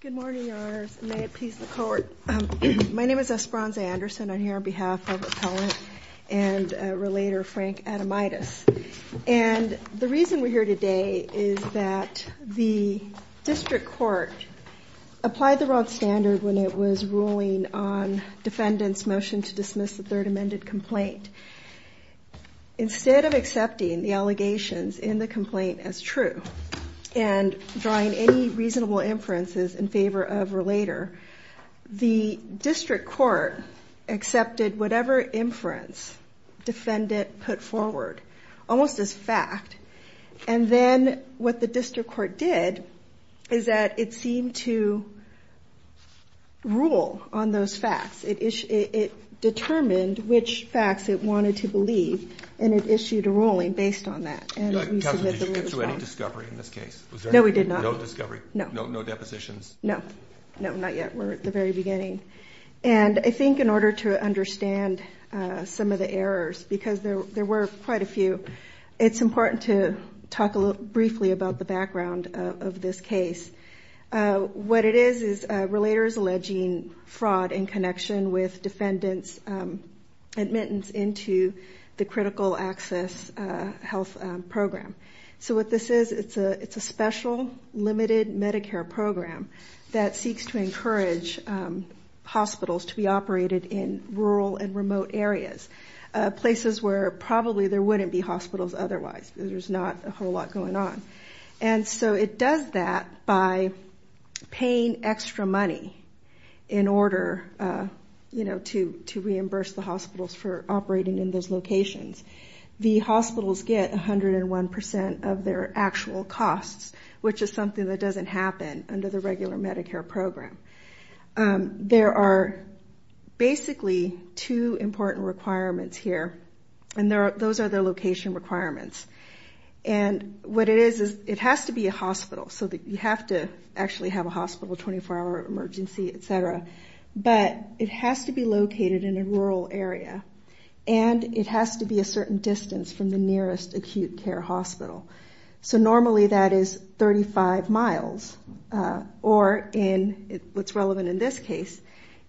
Good morning, Your Honors. May it please the Court. My name is Esperanza Anderson. I'm here on behalf of Appellant and Relator Frank Adomitis. And the reason we're here today is that the District Court applied the wrong standard when it was ruling on Defendant's motion to dismiss the third amended complaint. Instead of accepting the allegations in the complaint as true and drawing any reasonable inferences in favor of Relator, the District Court accepted whatever inference Defendant put forward, almost as fact. And then what the District Court did is that it seemed to rule on those facts. It determined which facts it wanted to believe, and it issued a ruling based on that. And we submitted the ruling as well. Did you get to any discovery in this case? No, we did not. No discovery? No. No depositions? No. No, not yet. We're at the very beginning. And I think in order to understand some of the errors, because there were quite a few, it's important to talk briefly about the background of this case. What it is is Relator is alleging fraud in connection with Defendant's admittance into the critical access health program. So what this is, it's a special, limited Medicare program that seeks to encourage hospitals to be operated in rural and remote areas, places where probably there wouldn't be hospitals otherwise. There's not a whole lot going on. And so it does that by paying extra money in order, you know, to reimburse the hospitals for operating in those locations. The hospitals get 101% of their actual costs, which is something that doesn't happen under the regular Medicare program. There are basically two important requirements here, and those are the location requirements. And what it is is it has to be a hospital. So you have to actually have a hospital, 24-hour emergency, et cetera. But it has to be located in a rural area, and it has to be a certain distance from the nearest acute care hospital. So normally that is 35 miles. Or in what's relevant in this case,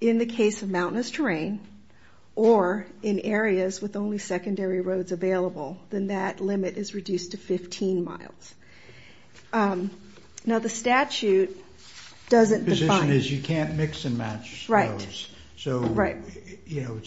in the case of mountainous terrain or in areas with only secondary roads available, then that limit is reduced to 15 miles. Now the statute doesn't define... The position is you can't mix and match those. Right. So, you know,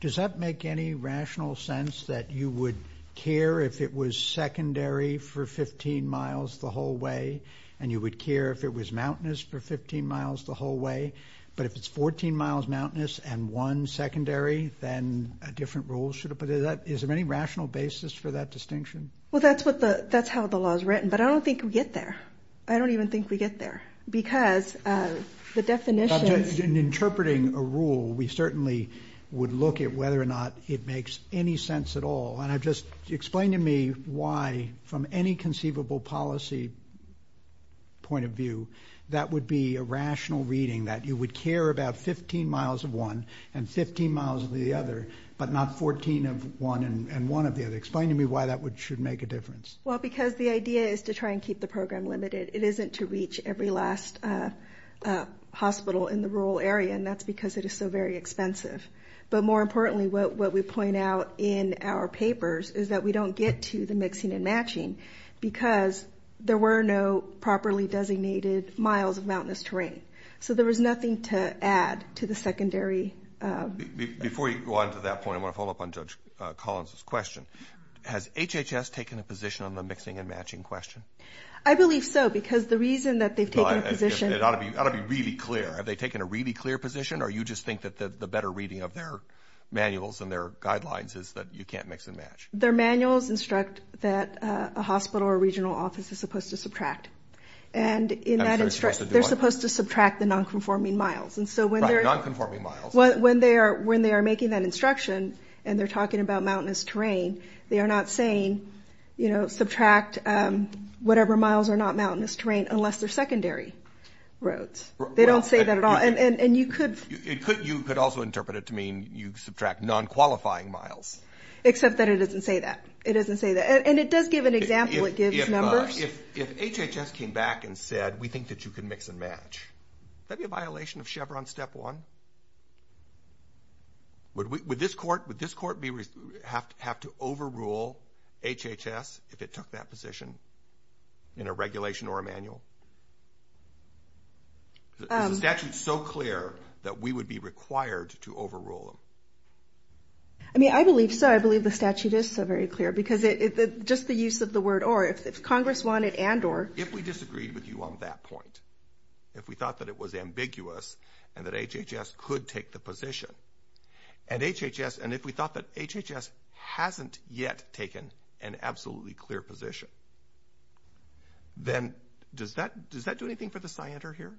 does that make any rational sense that you would care if it was secondary for 15 miles the whole way, and you would care if it was mountainous for 15 miles the whole way? But if it's 14 miles mountainous and one secondary, then a different rule should apply. Is there any rational basis for that distinction? Well, that's how the law is written, but I don't think we get there. I don't even think we get there because the definitions... In interpreting a rule, we certainly would look at whether or not it makes any sense at all. And just explain to me why, from any conceivable policy point of view, that would be a rational reading, that you would care about 15 miles of one and 15 miles of the other, but not 14 of one and one of the other. Explain to me why that should make a difference. Well, because the idea is to try and keep the program limited. It isn't to reach every last hospital in the rural area, and that's because it is so very expensive. But more importantly, what we point out in our papers is that we don't get to the mixing and matching because there were no properly designated miles of mountainous terrain. So there was nothing to add to the secondary... Before you go on to that point, I want to follow up on Judge Collins' question. Has HHS taken a position on the mixing and matching question? I believe so, because the reason that they've taken a position... It ought to be really clear. Have they taken a really clear position, or you just think that the better reading of their manuals and their guidelines is that you can't mix and match? Their manuals instruct that a hospital or regional office is supposed to subtract. And in that instruction, they're supposed to subtract the nonconforming miles. Right, nonconforming miles. When they are making that instruction and they're talking about mountainous terrain, they are not saying, you know, subtract whatever miles are not mountainous terrain unless they're secondary roads. They don't say that at all. And you could... You could also interpret it to mean you subtract nonqualifying miles. Except that it doesn't say that. It doesn't say that. And it does give an example. It gives numbers. If HHS came back and said, we think that you can mix and match, would that be a violation of Chevron Step 1? Would this court have to overrule HHS if it took that position in a regulation or a manual? Is the statute so clear that we would be required to overrule them? I mean, I believe so. I believe the statute is so very clear because just the use of the word or. If Congress wanted and or. If we disagreed with you on that point, if we thought that it was ambiguous and that HHS could take the position, and HHS, and if we thought that HHS hasn't yet taken an absolutely clear position, then does that do anything for the scienter here?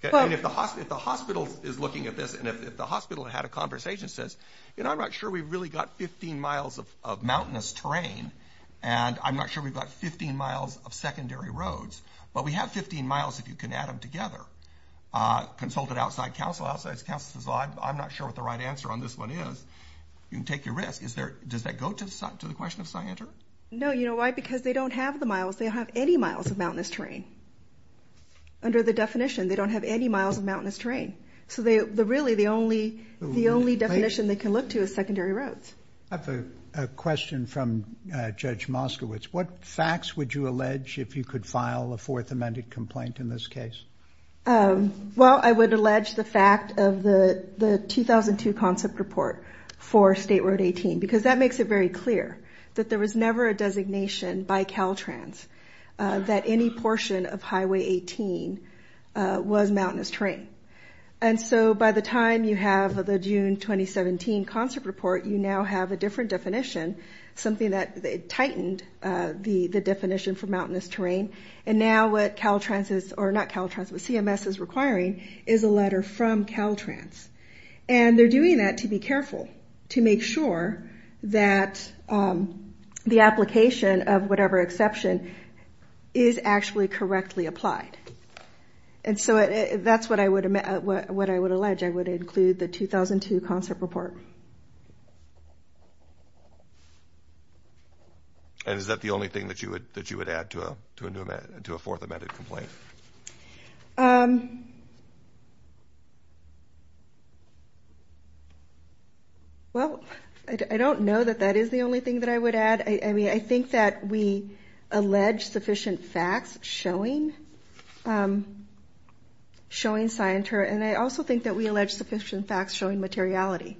If the hospital is looking at this and if the hospital had a conversation and says, you know, I'm not sure we've really got 15 miles of mountainous terrain and I'm not sure we've got 15 miles of secondary roads, but we have 15 miles if you can add them together. Consulted outside counsel, outside counsel says, I'm not sure what the right answer on this one is. You can take your risk. Does that go to the question of scienter? No. You know why? Because they don't have the miles. They don't have any miles of mountainous terrain. Under the definition, they don't have any miles of mountainous terrain. So really the only definition they can look to is secondary roads. I have a question from Judge Moskowitz. What facts would you allege if you could file a fourth amended complaint in this case? Well, I would allege the fact of the 2002 concept report for State Road 18 because that makes it very clear that there was never a designation by Caltrans that any portion of Highway 18 was mountainous terrain. And so by the time you have the June 2017 concept report, you now have a different definition, something that tightened the definition for mountainous terrain. And now what CMS is requiring is a letter from Caltrans. And they're doing that to be careful, to make sure that the application of whatever exception is actually correctly applied. And so that's what I would allege. I would include the 2002 concept report. And is that the only thing that you would add to a fourth amended complaint? Well, I don't know that that is the only thing that I would add. I mean, I think that we allege sufficient facts showing scienture. And I also think that we allege sufficient facts showing materiality.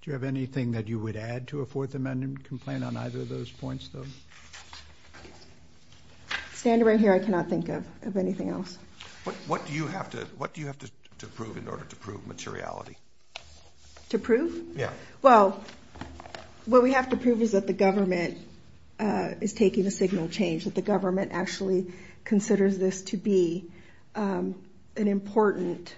Do you have anything that you would add to a fourth amended complaint on either of those points, though? Standing right here, I cannot think of anything else. What do you have to prove in order to prove materiality? To prove? Yeah. Well, what we have to prove is that the government is taking a signal change, that the government actually considers this to be an important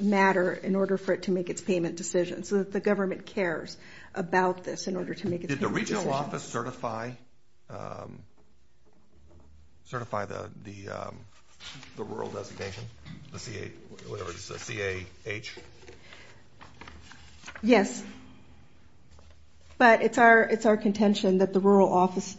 matter in order for it to make its payment decision, so that the government cares about this in order to make its payment decision. Did the regional office certify the rural designation, the CAH? Yes. But it's our contention that the rural office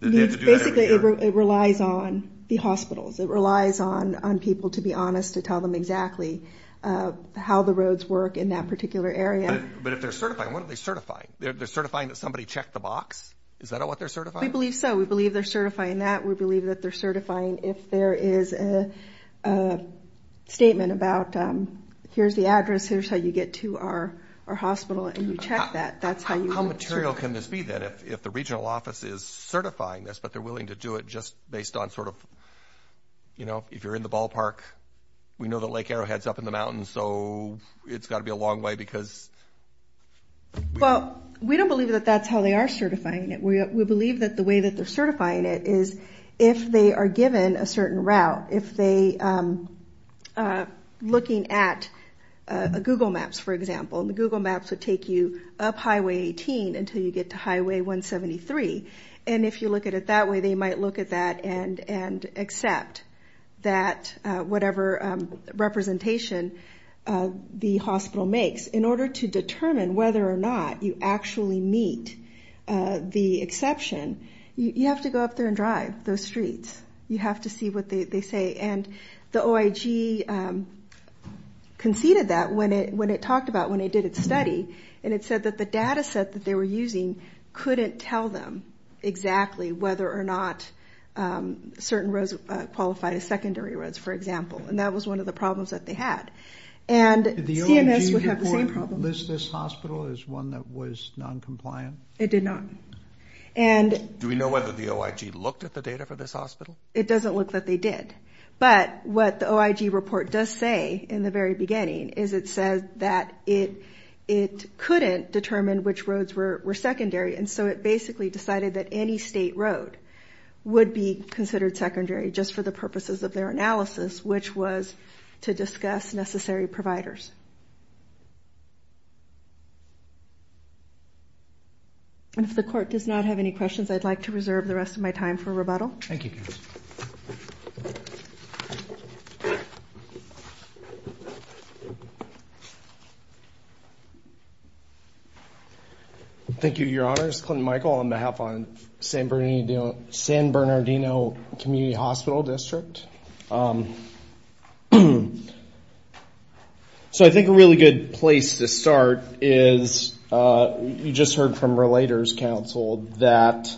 needs to do that every year. Basically, it relies on the hospitals. It relies on people, to be honest, to tell them exactly how the roads work in that particular area. But if they're certifying, what are they certifying? They're certifying that somebody checked the box? Is that what they're certifying? We believe so. We believe they're certifying that. We believe that they're certifying if there is a statement about here's the address, here's how you get to our hospital, and you check that. How material can this be, then, if the regional office is certifying this, but they're willing to do it just based on sort of, you know, if you're in the ballpark, we know that Lake Arrowhead's up in the mountains, so it's got to be a long way because... Well, we don't believe that that's how they are certifying it. We believe that the way that they're certifying it is if they are given a certain route, if they are looking at Google Maps, for example, and the Google Maps would take you up Highway 18 until you get to Highway 173. And if you look at it that way, they might look at that and accept that whatever representation the hospital makes. In order to determine whether or not you actually meet the exception, you have to go up there and drive those streets. You have to see what they say. And the OIG conceded that when it talked about, when it did its study, and it said that the data set that they were using couldn't tell them exactly whether or not certain roads qualified as secondary roads, for example. And that was one of the problems that they had. Did the OIG report list this hospital as one that was noncompliant? It did not. Do we know whether the OIG looked at the data for this hospital? It doesn't look that they did. But what the OIG report does say in the very beginning is it says that it couldn't determine which roads were secondary, and so it basically decided that any state road would be considered secondary just for the purposes of their analysis, which was to discuss necessary providers. If the court does not have any questions, I'd like to reserve the rest of my time for rebuttal. Thank you. Thank you, Your Honors. Chris Clinton-Michael on behalf of San Bernardino Community Hospital District. So I think a really good place to start is you just heard from Relators Council that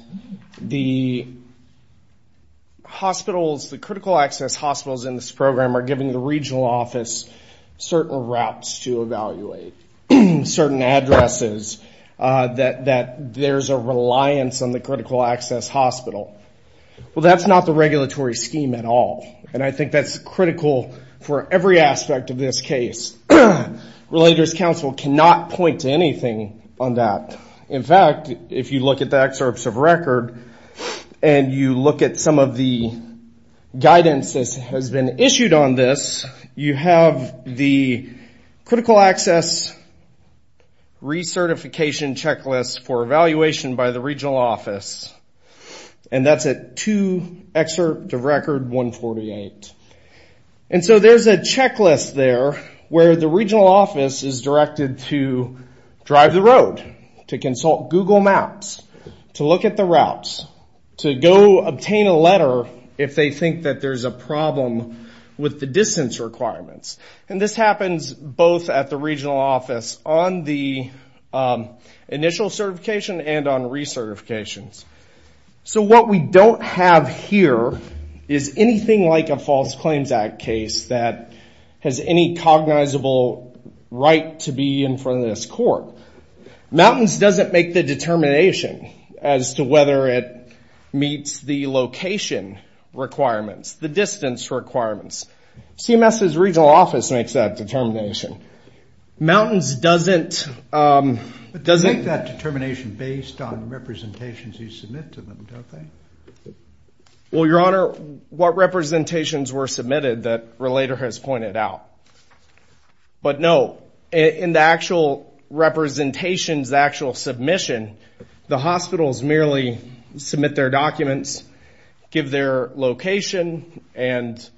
the critical access hospitals in this program are giving the regional office certain routes to evaluate, certain addresses, that there's a reliance on the critical access hospital. Well, that's not the regulatory scheme at all, and I think that's critical for every aspect of this case. Relators Council cannot point to anything on that. In fact, if you look at the excerpts of record and you look at some of the guidance that has been issued on this, you have the critical access recertification checklist for evaluation by the regional office, and that's at 2 excerpt of record 148. And so there's a checklist there where the regional office is directed to drive the road, to consult Google Maps, to look at the routes, to go obtain a letter if they think that there's a problem with the distance requirements. And this happens both at the regional office on the initial certification and on recertifications. So what we don't have here is anything like a False Claims Act case that has any cognizable right to be in front of this court. Mountains doesn't make the determination as to whether it meets the location requirements, the distance requirements. CMS's regional office makes that determination. Mountains doesn't. But they make that determination based on representations you submit to them, don't they? Well, Your Honor, what representations were submitted that Relator has pointed out? But, no, in the actual representations, the actual submission, the hospitals merely submit their documents, give their location, and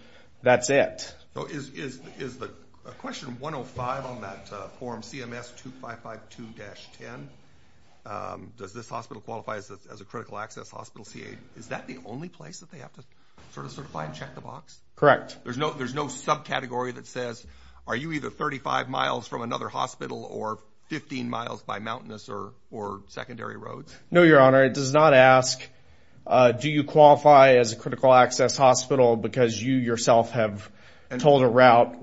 that's it. Is the question 105 on that form CMS 2552-10, does this hospital qualify as a critical access hospital CA, is that the only place that they have to sort of certify and check the box? Correct. There's no subcategory that says, are you either 35 miles from another hospital or 15 miles by mountainous or secondary roads? No, Your Honor, it does not ask, do you qualify as a critical access hospital because you yourself have told a route?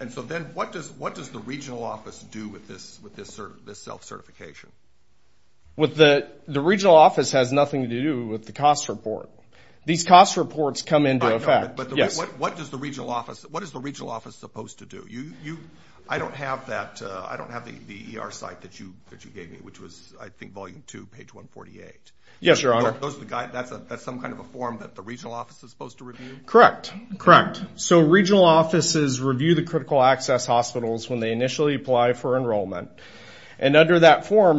And so then what does the regional office do with this self-certification? The regional office has nothing to do with the cost report. These cost reports come into effect. But what is the regional office supposed to do? I don't have the ER site that you gave me, which was, I think, Volume 2, page 148. Yes, Your Honor. That's some kind of a form that the regional office is supposed to review? Correct, correct. So regional offices review the critical access hospitals when they initially apply for enrollment. And under that form,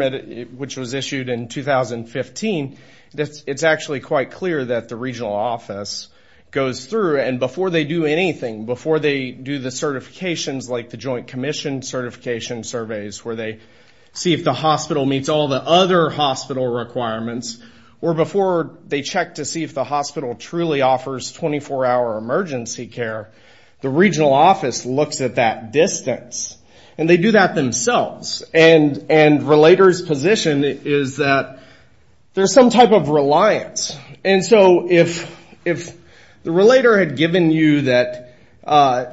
which was issued in 2015, it's actually quite clear that the regional office goes through. And before they do anything, before they do the certifications, like the joint commission certification surveys, where they see if the hospital meets all the other hospital requirements, or before they check to see if the hospital truly offers 24-hour emergency care, the regional office looks at that distance. And they do that themselves. And Relator's position is that there's some type of reliance. And so if the Relator had given you that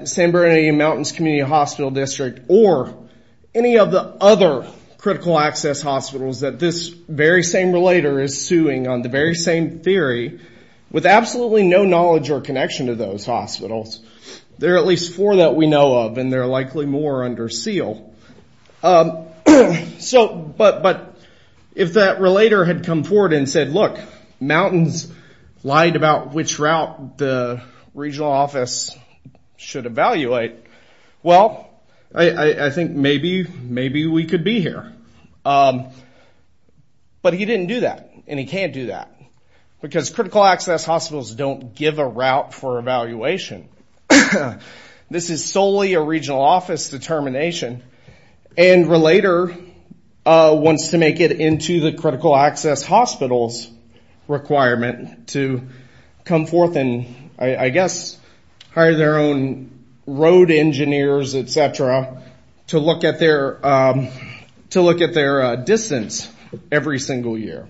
San Bernardino Mountains Community Hospital District or any of the other critical access hospitals that this very same Relator is suing, on the very same theory, with absolutely no knowledge or connection to those hospitals, there are at least four that we know of, and they're likely more under seal. But if that Relator had come forward and said, look, Mountains lied about which route the regional office should evaluate, well, I think maybe we could be here. But he didn't do that, and he can't do that, because critical access hospitals don't give a route for evaluation. This is solely a regional office determination. And Relator wants to make it into the critical access hospitals requirement to come forth and I guess hire their own road engineers, et cetera, to look at their distance every single year.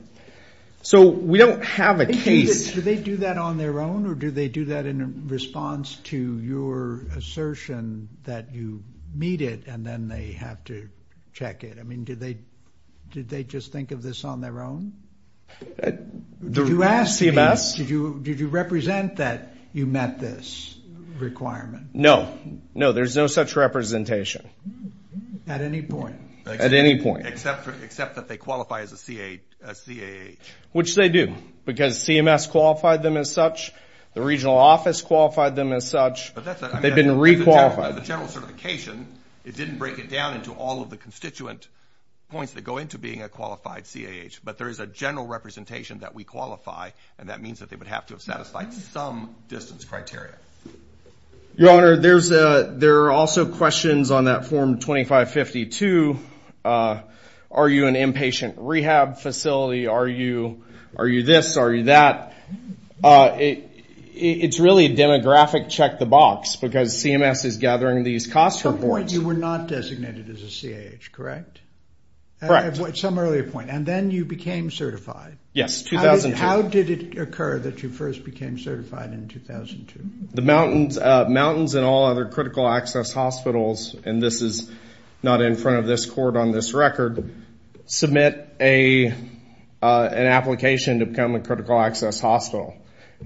So we don't have a case. Do they do that on their own, or do they do that in response to your assertion that you meet it and then they have to check it? I mean, did they just think of this on their own? CMS? Did you represent that you met this requirement? No. No, there's no such representation. At any point? At any point. Except that they qualify as a CAH. Which they do, because CMS qualified them as such. The regional office qualified them as such. They've been requalified. The general certification, it didn't break it down into all of the constituent points that go into being a qualified CAH. But there is a general representation that we qualify, and that means that they would have to have satisfied some distance criteria. Your Honor, there are also questions on that form 2552. Are you an inpatient rehab facility? Are you this? Are you that? It's really a demographic check the box, because CMS is gathering these cost reports. At some point you were not designated as a CAH, correct? Correct. At some earlier point. And then you became certified. Yes, 2002. How did it occur that you first became certified in 2002? The mountains and all other critical access hospitals, and this is not in front of this court on this record, submit an application to become a critical access hospital.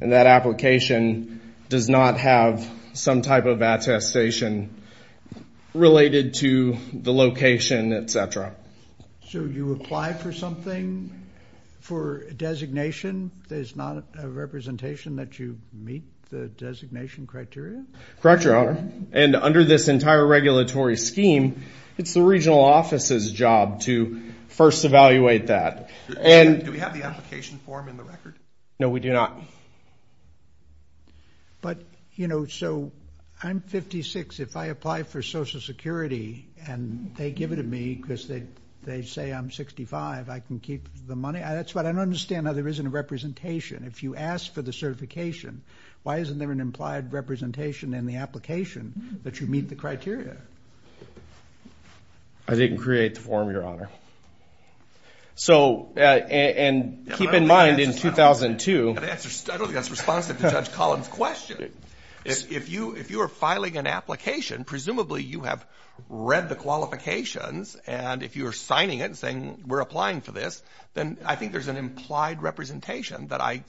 And that application does not have some type of attestation related to the location, et cetera. So you apply for something for designation? There's not a representation that you meet the designation criteria? Correct, Your Honor. And under this entire regulatory scheme, it's the regional office's job to first evaluate that. Do we have the application form in the record? No, we do not. But, you know, so I'm 56. If I apply for Social Security and they give it to me because they say I'm 65, I can keep the money? That's right. I don't understand how there isn't a representation. If you ask for the certification, why isn't there an implied representation in the application that you meet the criteria? I didn't create the form, Your Honor. And keep in mind in 2002. I don't think that's responsive to Judge Collins' question. If you are filing an application, presumably you have read the qualifications, and if you are signing it and saying we're applying for this, then I think there's an implied representation that I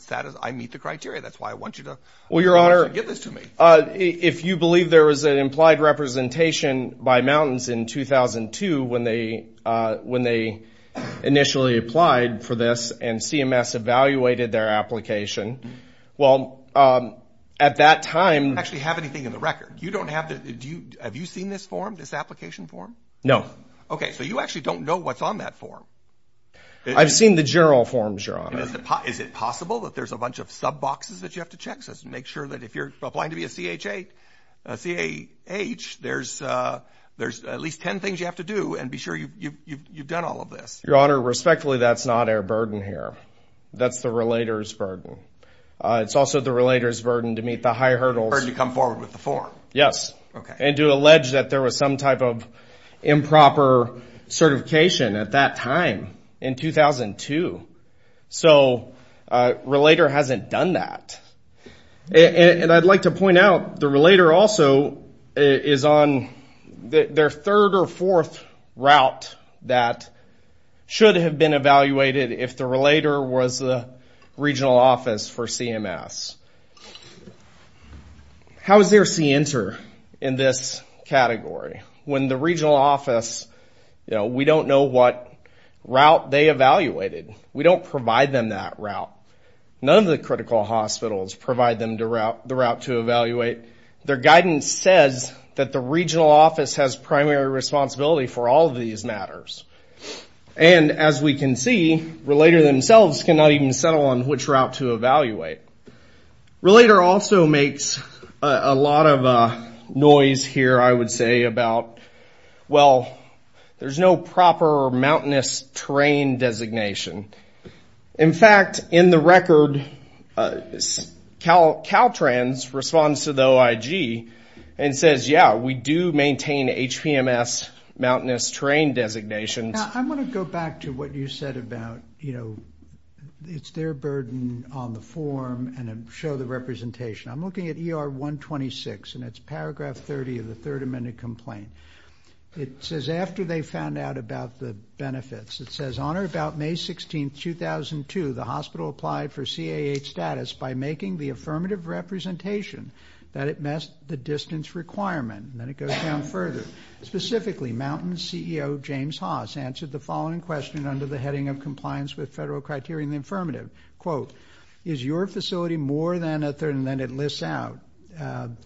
meet the criteria. That's why I want you to get this to me. Well, Your Honor, if you believe there was an implied representation by Mountains in 2002 when they initially applied for this and CMS evaluated their application, well, at that time. I don't actually have anything in the record. You don't have the... Have you seen this form, this application form? No. Okay, so you actually don't know what's on that form. I've seen the general forms, Your Honor. Is it possible that there's a bunch of sub boxes that you have to check? Just make sure that if you're applying to be a CAH, there's at least 10 things you have to do and be sure you've done all of this. Your Honor, respectfully, that's not our burden here. That's the relator's burden. It's also the relator's burden to meet the high hurdles. Burden to come forward with the form. Yes. Okay. And to allege that there was some type of improper certification at that time in 2002. So a relator hasn't done that. And I'd like to point out the relator also is on their third or fourth route that should have been evaluated if the relator was the regional office for CMS. How is there C-enter in this category? When the regional office, you know, we don't know what route they evaluated. We don't provide them that route. None of the critical hospitals provide them the route to evaluate. Their guidance says that the regional office has primary responsibility for all of these matters. And as we can see, relator themselves cannot even settle on which route to evaluate. Relator also makes a lot of noise here, I would say, about, well, there's no proper mountainous terrain designation. In fact, in the record, Caltrans responds to the OIG and says, yeah, we do maintain HPMS mountainous terrain designations. I want to go back to what you said about, you know, it's their burden on the form and show the representation. I'm looking at ER 126, and it's paragraph 30 of the Third Amendment complaint. It says, after they found out about the benefits, it says, on or about May 16, 2002, the hospital applied for CAH status by making the affirmative representation that it met the distance requirement. And then it goes down further. Specifically, Mountain's CEO, James Haas, answered the following question under the heading of compliance with federal criteria in the affirmative. Quote, is your facility more than a third? And then it lists out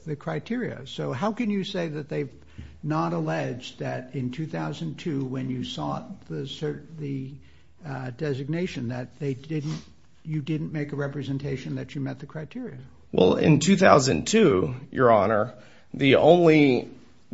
the criteria. So how can you say that they've not alleged that in 2002, when you sought the designation, that you didn't make a representation that you met the criteria? Well, in 2002, Your Honor, the only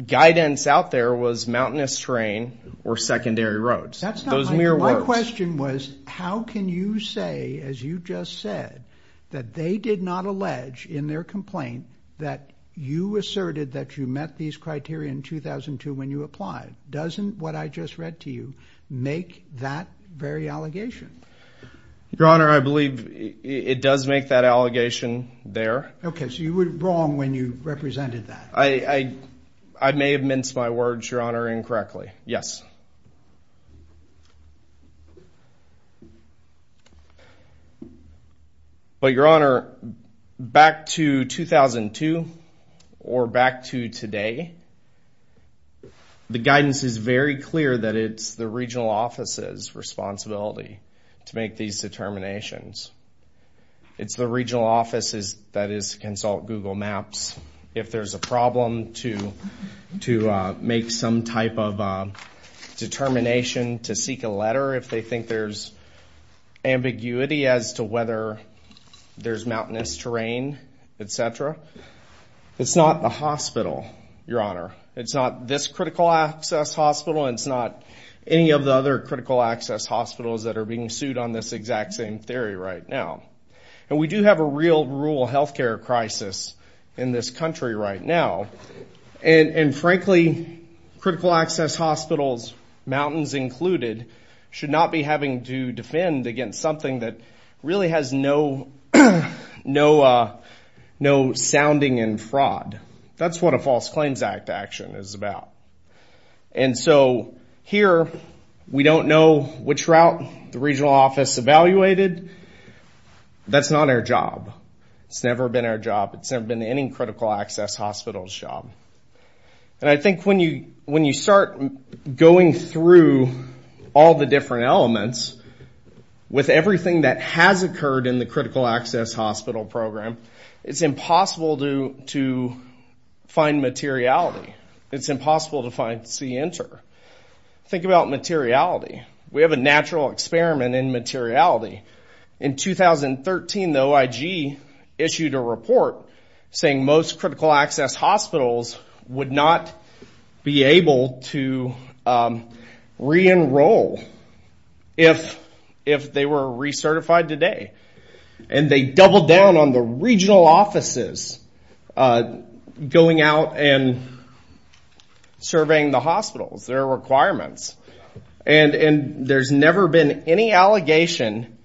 guidance out there was mountainous terrain or secondary roads. That's not my question. My question was, how can you say, as you just said, that they did not allege in their complaint that you asserted that you met these criteria in 2002 when you applied? Doesn't what I just read to you make that very allegation? Your Honor, I believe it does make that allegation there. Okay, so you were wrong when you represented that. I may have minced my words, Your Honor, incorrectly. Yes. But, Your Honor, back to 2002 or back to today, the guidance is very clear that it's the regional office's responsibility to make these determinations. It's the regional office's that is to consult Google Maps. If there's a problem to make some type of determination to seek a letter, if they think there's ambiguity as to whether there's mountainous terrain, et cetera, it's not the hospital, Your Honor. It's not this critical access hospital, and it's not any of the other critical access hospitals that are being sued on this exact same theory right now. And we do have a real rural health care crisis in this country right now. And, frankly, critical access hospitals, mountains included, should not be having to defend against something that really has no sounding in fraud. That's what a False Claims Act action is about. And so here we don't know which route the regional office evaluated. That's not our job. It's never been our job. It's never been any critical access hospital's job. And I think when you start going through all the different elements, with everything that has occurred in the critical access hospital program, it's impossible to find materiality. It's impossible to find C Enter. Think about materiality. We have a natural experiment in materiality. In 2013, the OIG issued a report saying most critical access hospitals would not be able to re-enroll if they were recertified today. And they doubled down on the regional offices going out and surveying the hospitals, their requirements. And there's never been any allegation.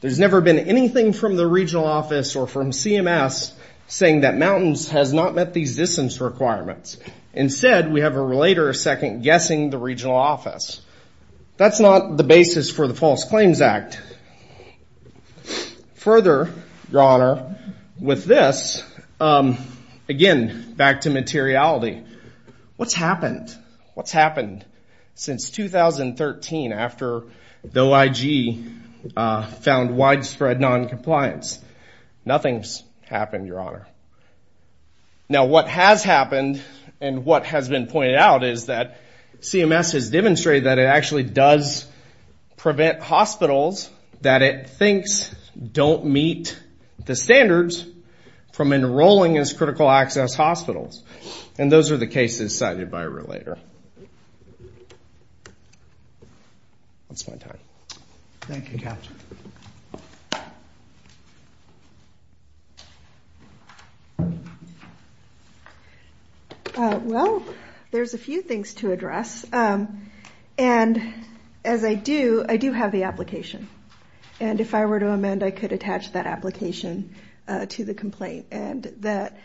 There's never been anything from the regional office or from CMS saying that mountains has not met these distance requirements. Instead, we have a later second guessing the regional office. That's not the basis for the False Claims Act. Further, Your Honor, with this, again, back to materiality. What's happened? What's happened since 2013 after the OIG found widespread noncompliance? Nothing's happened, Your Honor. Now, what has happened and what has been pointed out is that CMS has demonstrated that it actually does prevent hospitals that it thinks don't meet the standards from enrolling as critical access hospitals. And those are the cases cited by a relator. That's my time. Thank you, Captain. Well, there's a few things to address. And as I do, I do have the application. And if I were to amend, I could attach that application to the complaint. And that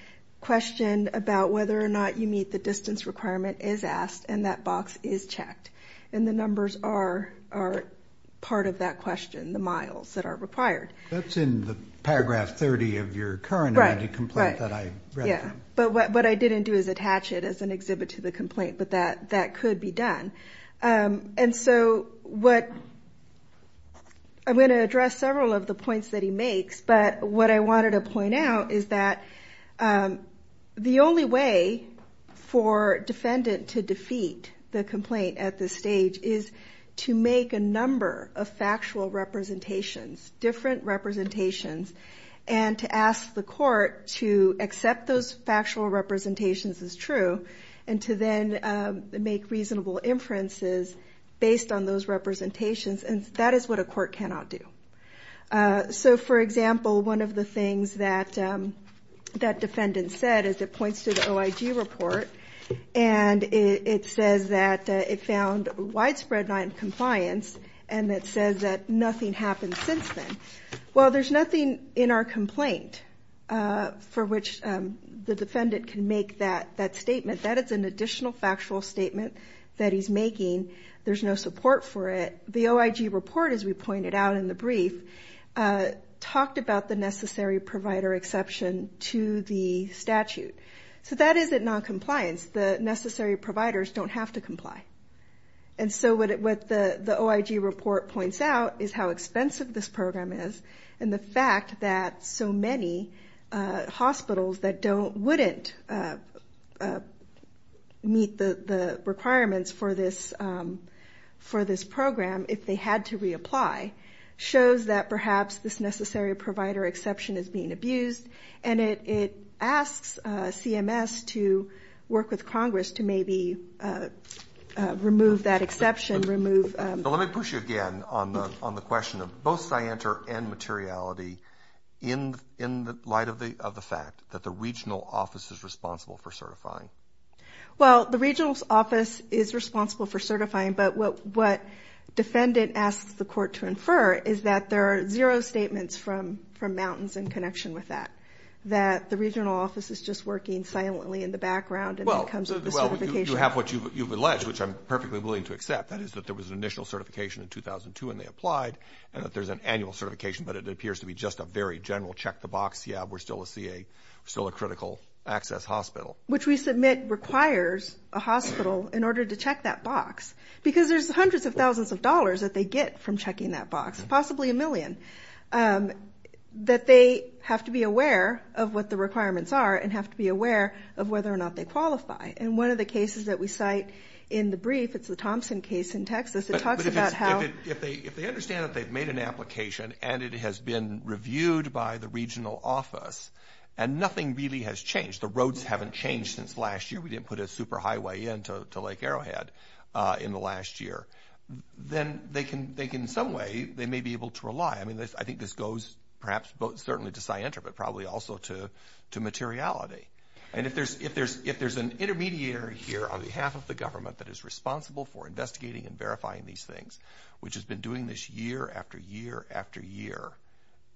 question about whether or not you meet the distance requirement is asked, and that box is checked. And the numbers are part of that question, the miles that are required. That's in the paragraph 30 of your current amended complaint that I read. Right, yeah. But what I didn't do is attach it as an exhibit to the complaint. But that could be done. And so what I'm going to address several of the points that he makes. But what I wanted to point out is that the only way for a defendant to defeat the complaint at this stage is to make a number of factual representations, different representations, and to ask the court to accept those factual representations as true and to then make reasonable inferences based on those representations. And that is what a court cannot do. So, for example, one of the things that that defendant said is it points to the OIG report. And it says that it found widespread noncompliance. And it says that nothing happened since then. Well, there's nothing in our complaint for which the defendant can make that statement. That is an additional factual statement that he's making. There's no support for it. The OIG report, as we pointed out in the brief, talked about the necessary provider exception to the statute. So that is noncompliance. The necessary providers don't have to comply. And so what the OIG report points out is how expensive this program is and the fact that so many hospitals that wouldn't meet the requirements for this program if they had to reapply shows that perhaps this necessary provider exception is being abused. And it asks CMS to work with Congress to maybe remove that exception. Let me push you again on the question of both scienter and materiality in light of the fact that the regional office is responsible for certifying. Well, the regional office is responsible for certifying. But what defendant asks the court to infer is that there are zero statements from mountains in connection with that, that the regional office is just working silently in the background when it comes to certification. Well, you have what you've alleged, which I'm perfectly willing to accept, that is that there was an initial certification in 2002 and they applied and that there's an annual certification, but it appears to be just a very general check the box, yeah, we're still a critical access hospital. Which we submit requires a hospital in order to check that box, because there's hundreds of thousands of dollars that they get from checking that box, possibly a million, that they have to be aware of what the requirements are and have to be aware of whether or not they qualify. And one of the cases that we cite in the brief, it's the Thompson case in Texas, it talks about how... But if they understand that they've made an application and it has been reviewed by the regional office and nothing really has changed, the roads haven't changed since last year, we didn't put a superhighway in to Lake Arrowhead in the last year, then they can, in some way, they may be able to rely. I mean, I think this goes perhaps both certainly to scienter but probably also to materiality. And if there's an intermediary here on behalf of the government that is responsible for investigating and verifying these things, which has been doing this year after year after year,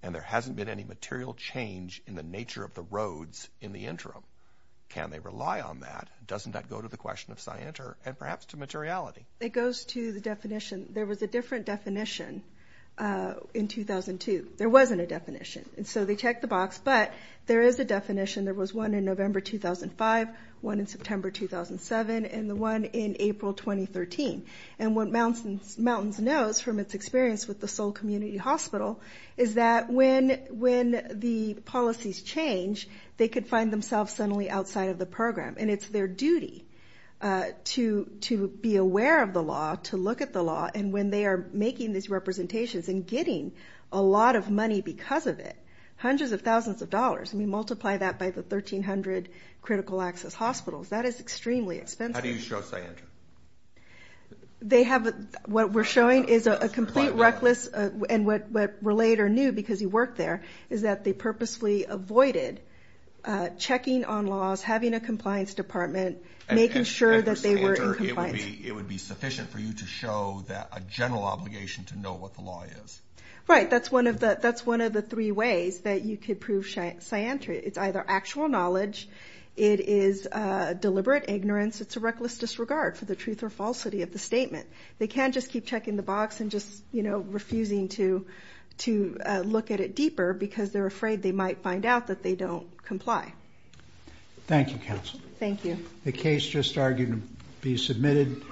and there hasn't been any material change in the nature of the roads in the interim, can they rely on that? Doesn't that go to the question of scienter and perhaps to materiality? It goes to the definition. There was a different definition in 2002. There wasn't a definition, and so they checked the box, but there is a definition. There was one in November 2005, one in September 2007, and the one in April 2013. And what Mountains knows from its experience with the Seoul Community Hospital is that when the policies change, they could find themselves suddenly outside of the program. And it's their duty to be aware of the law, to look at the law, and when they are making these representations and getting a lot of money because of it, hundreds of thousands of dollars, and we multiply that by the 1,300 critical access hospitals. That is extremely expensive. How do you show scienter? What we're showing is a complete reckless, and what Relator knew because he worked there, is that they purposely avoided checking on laws, having a compliance department, making sure that they were in compliance. Maybe it would be sufficient for you to show that a general obligation to know what the law is. Right. That's one of the three ways that you could prove scienter. It's either actual knowledge. It is deliberate ignorance. It's a reckless disregard for the truth or falsity of the statement. They can't just keep checking the box and just, you know, refusing to look at it deeper because they're afraid they might find out that they don't comply. Thank you, counsel. Thank you. The case just argued to be submitted.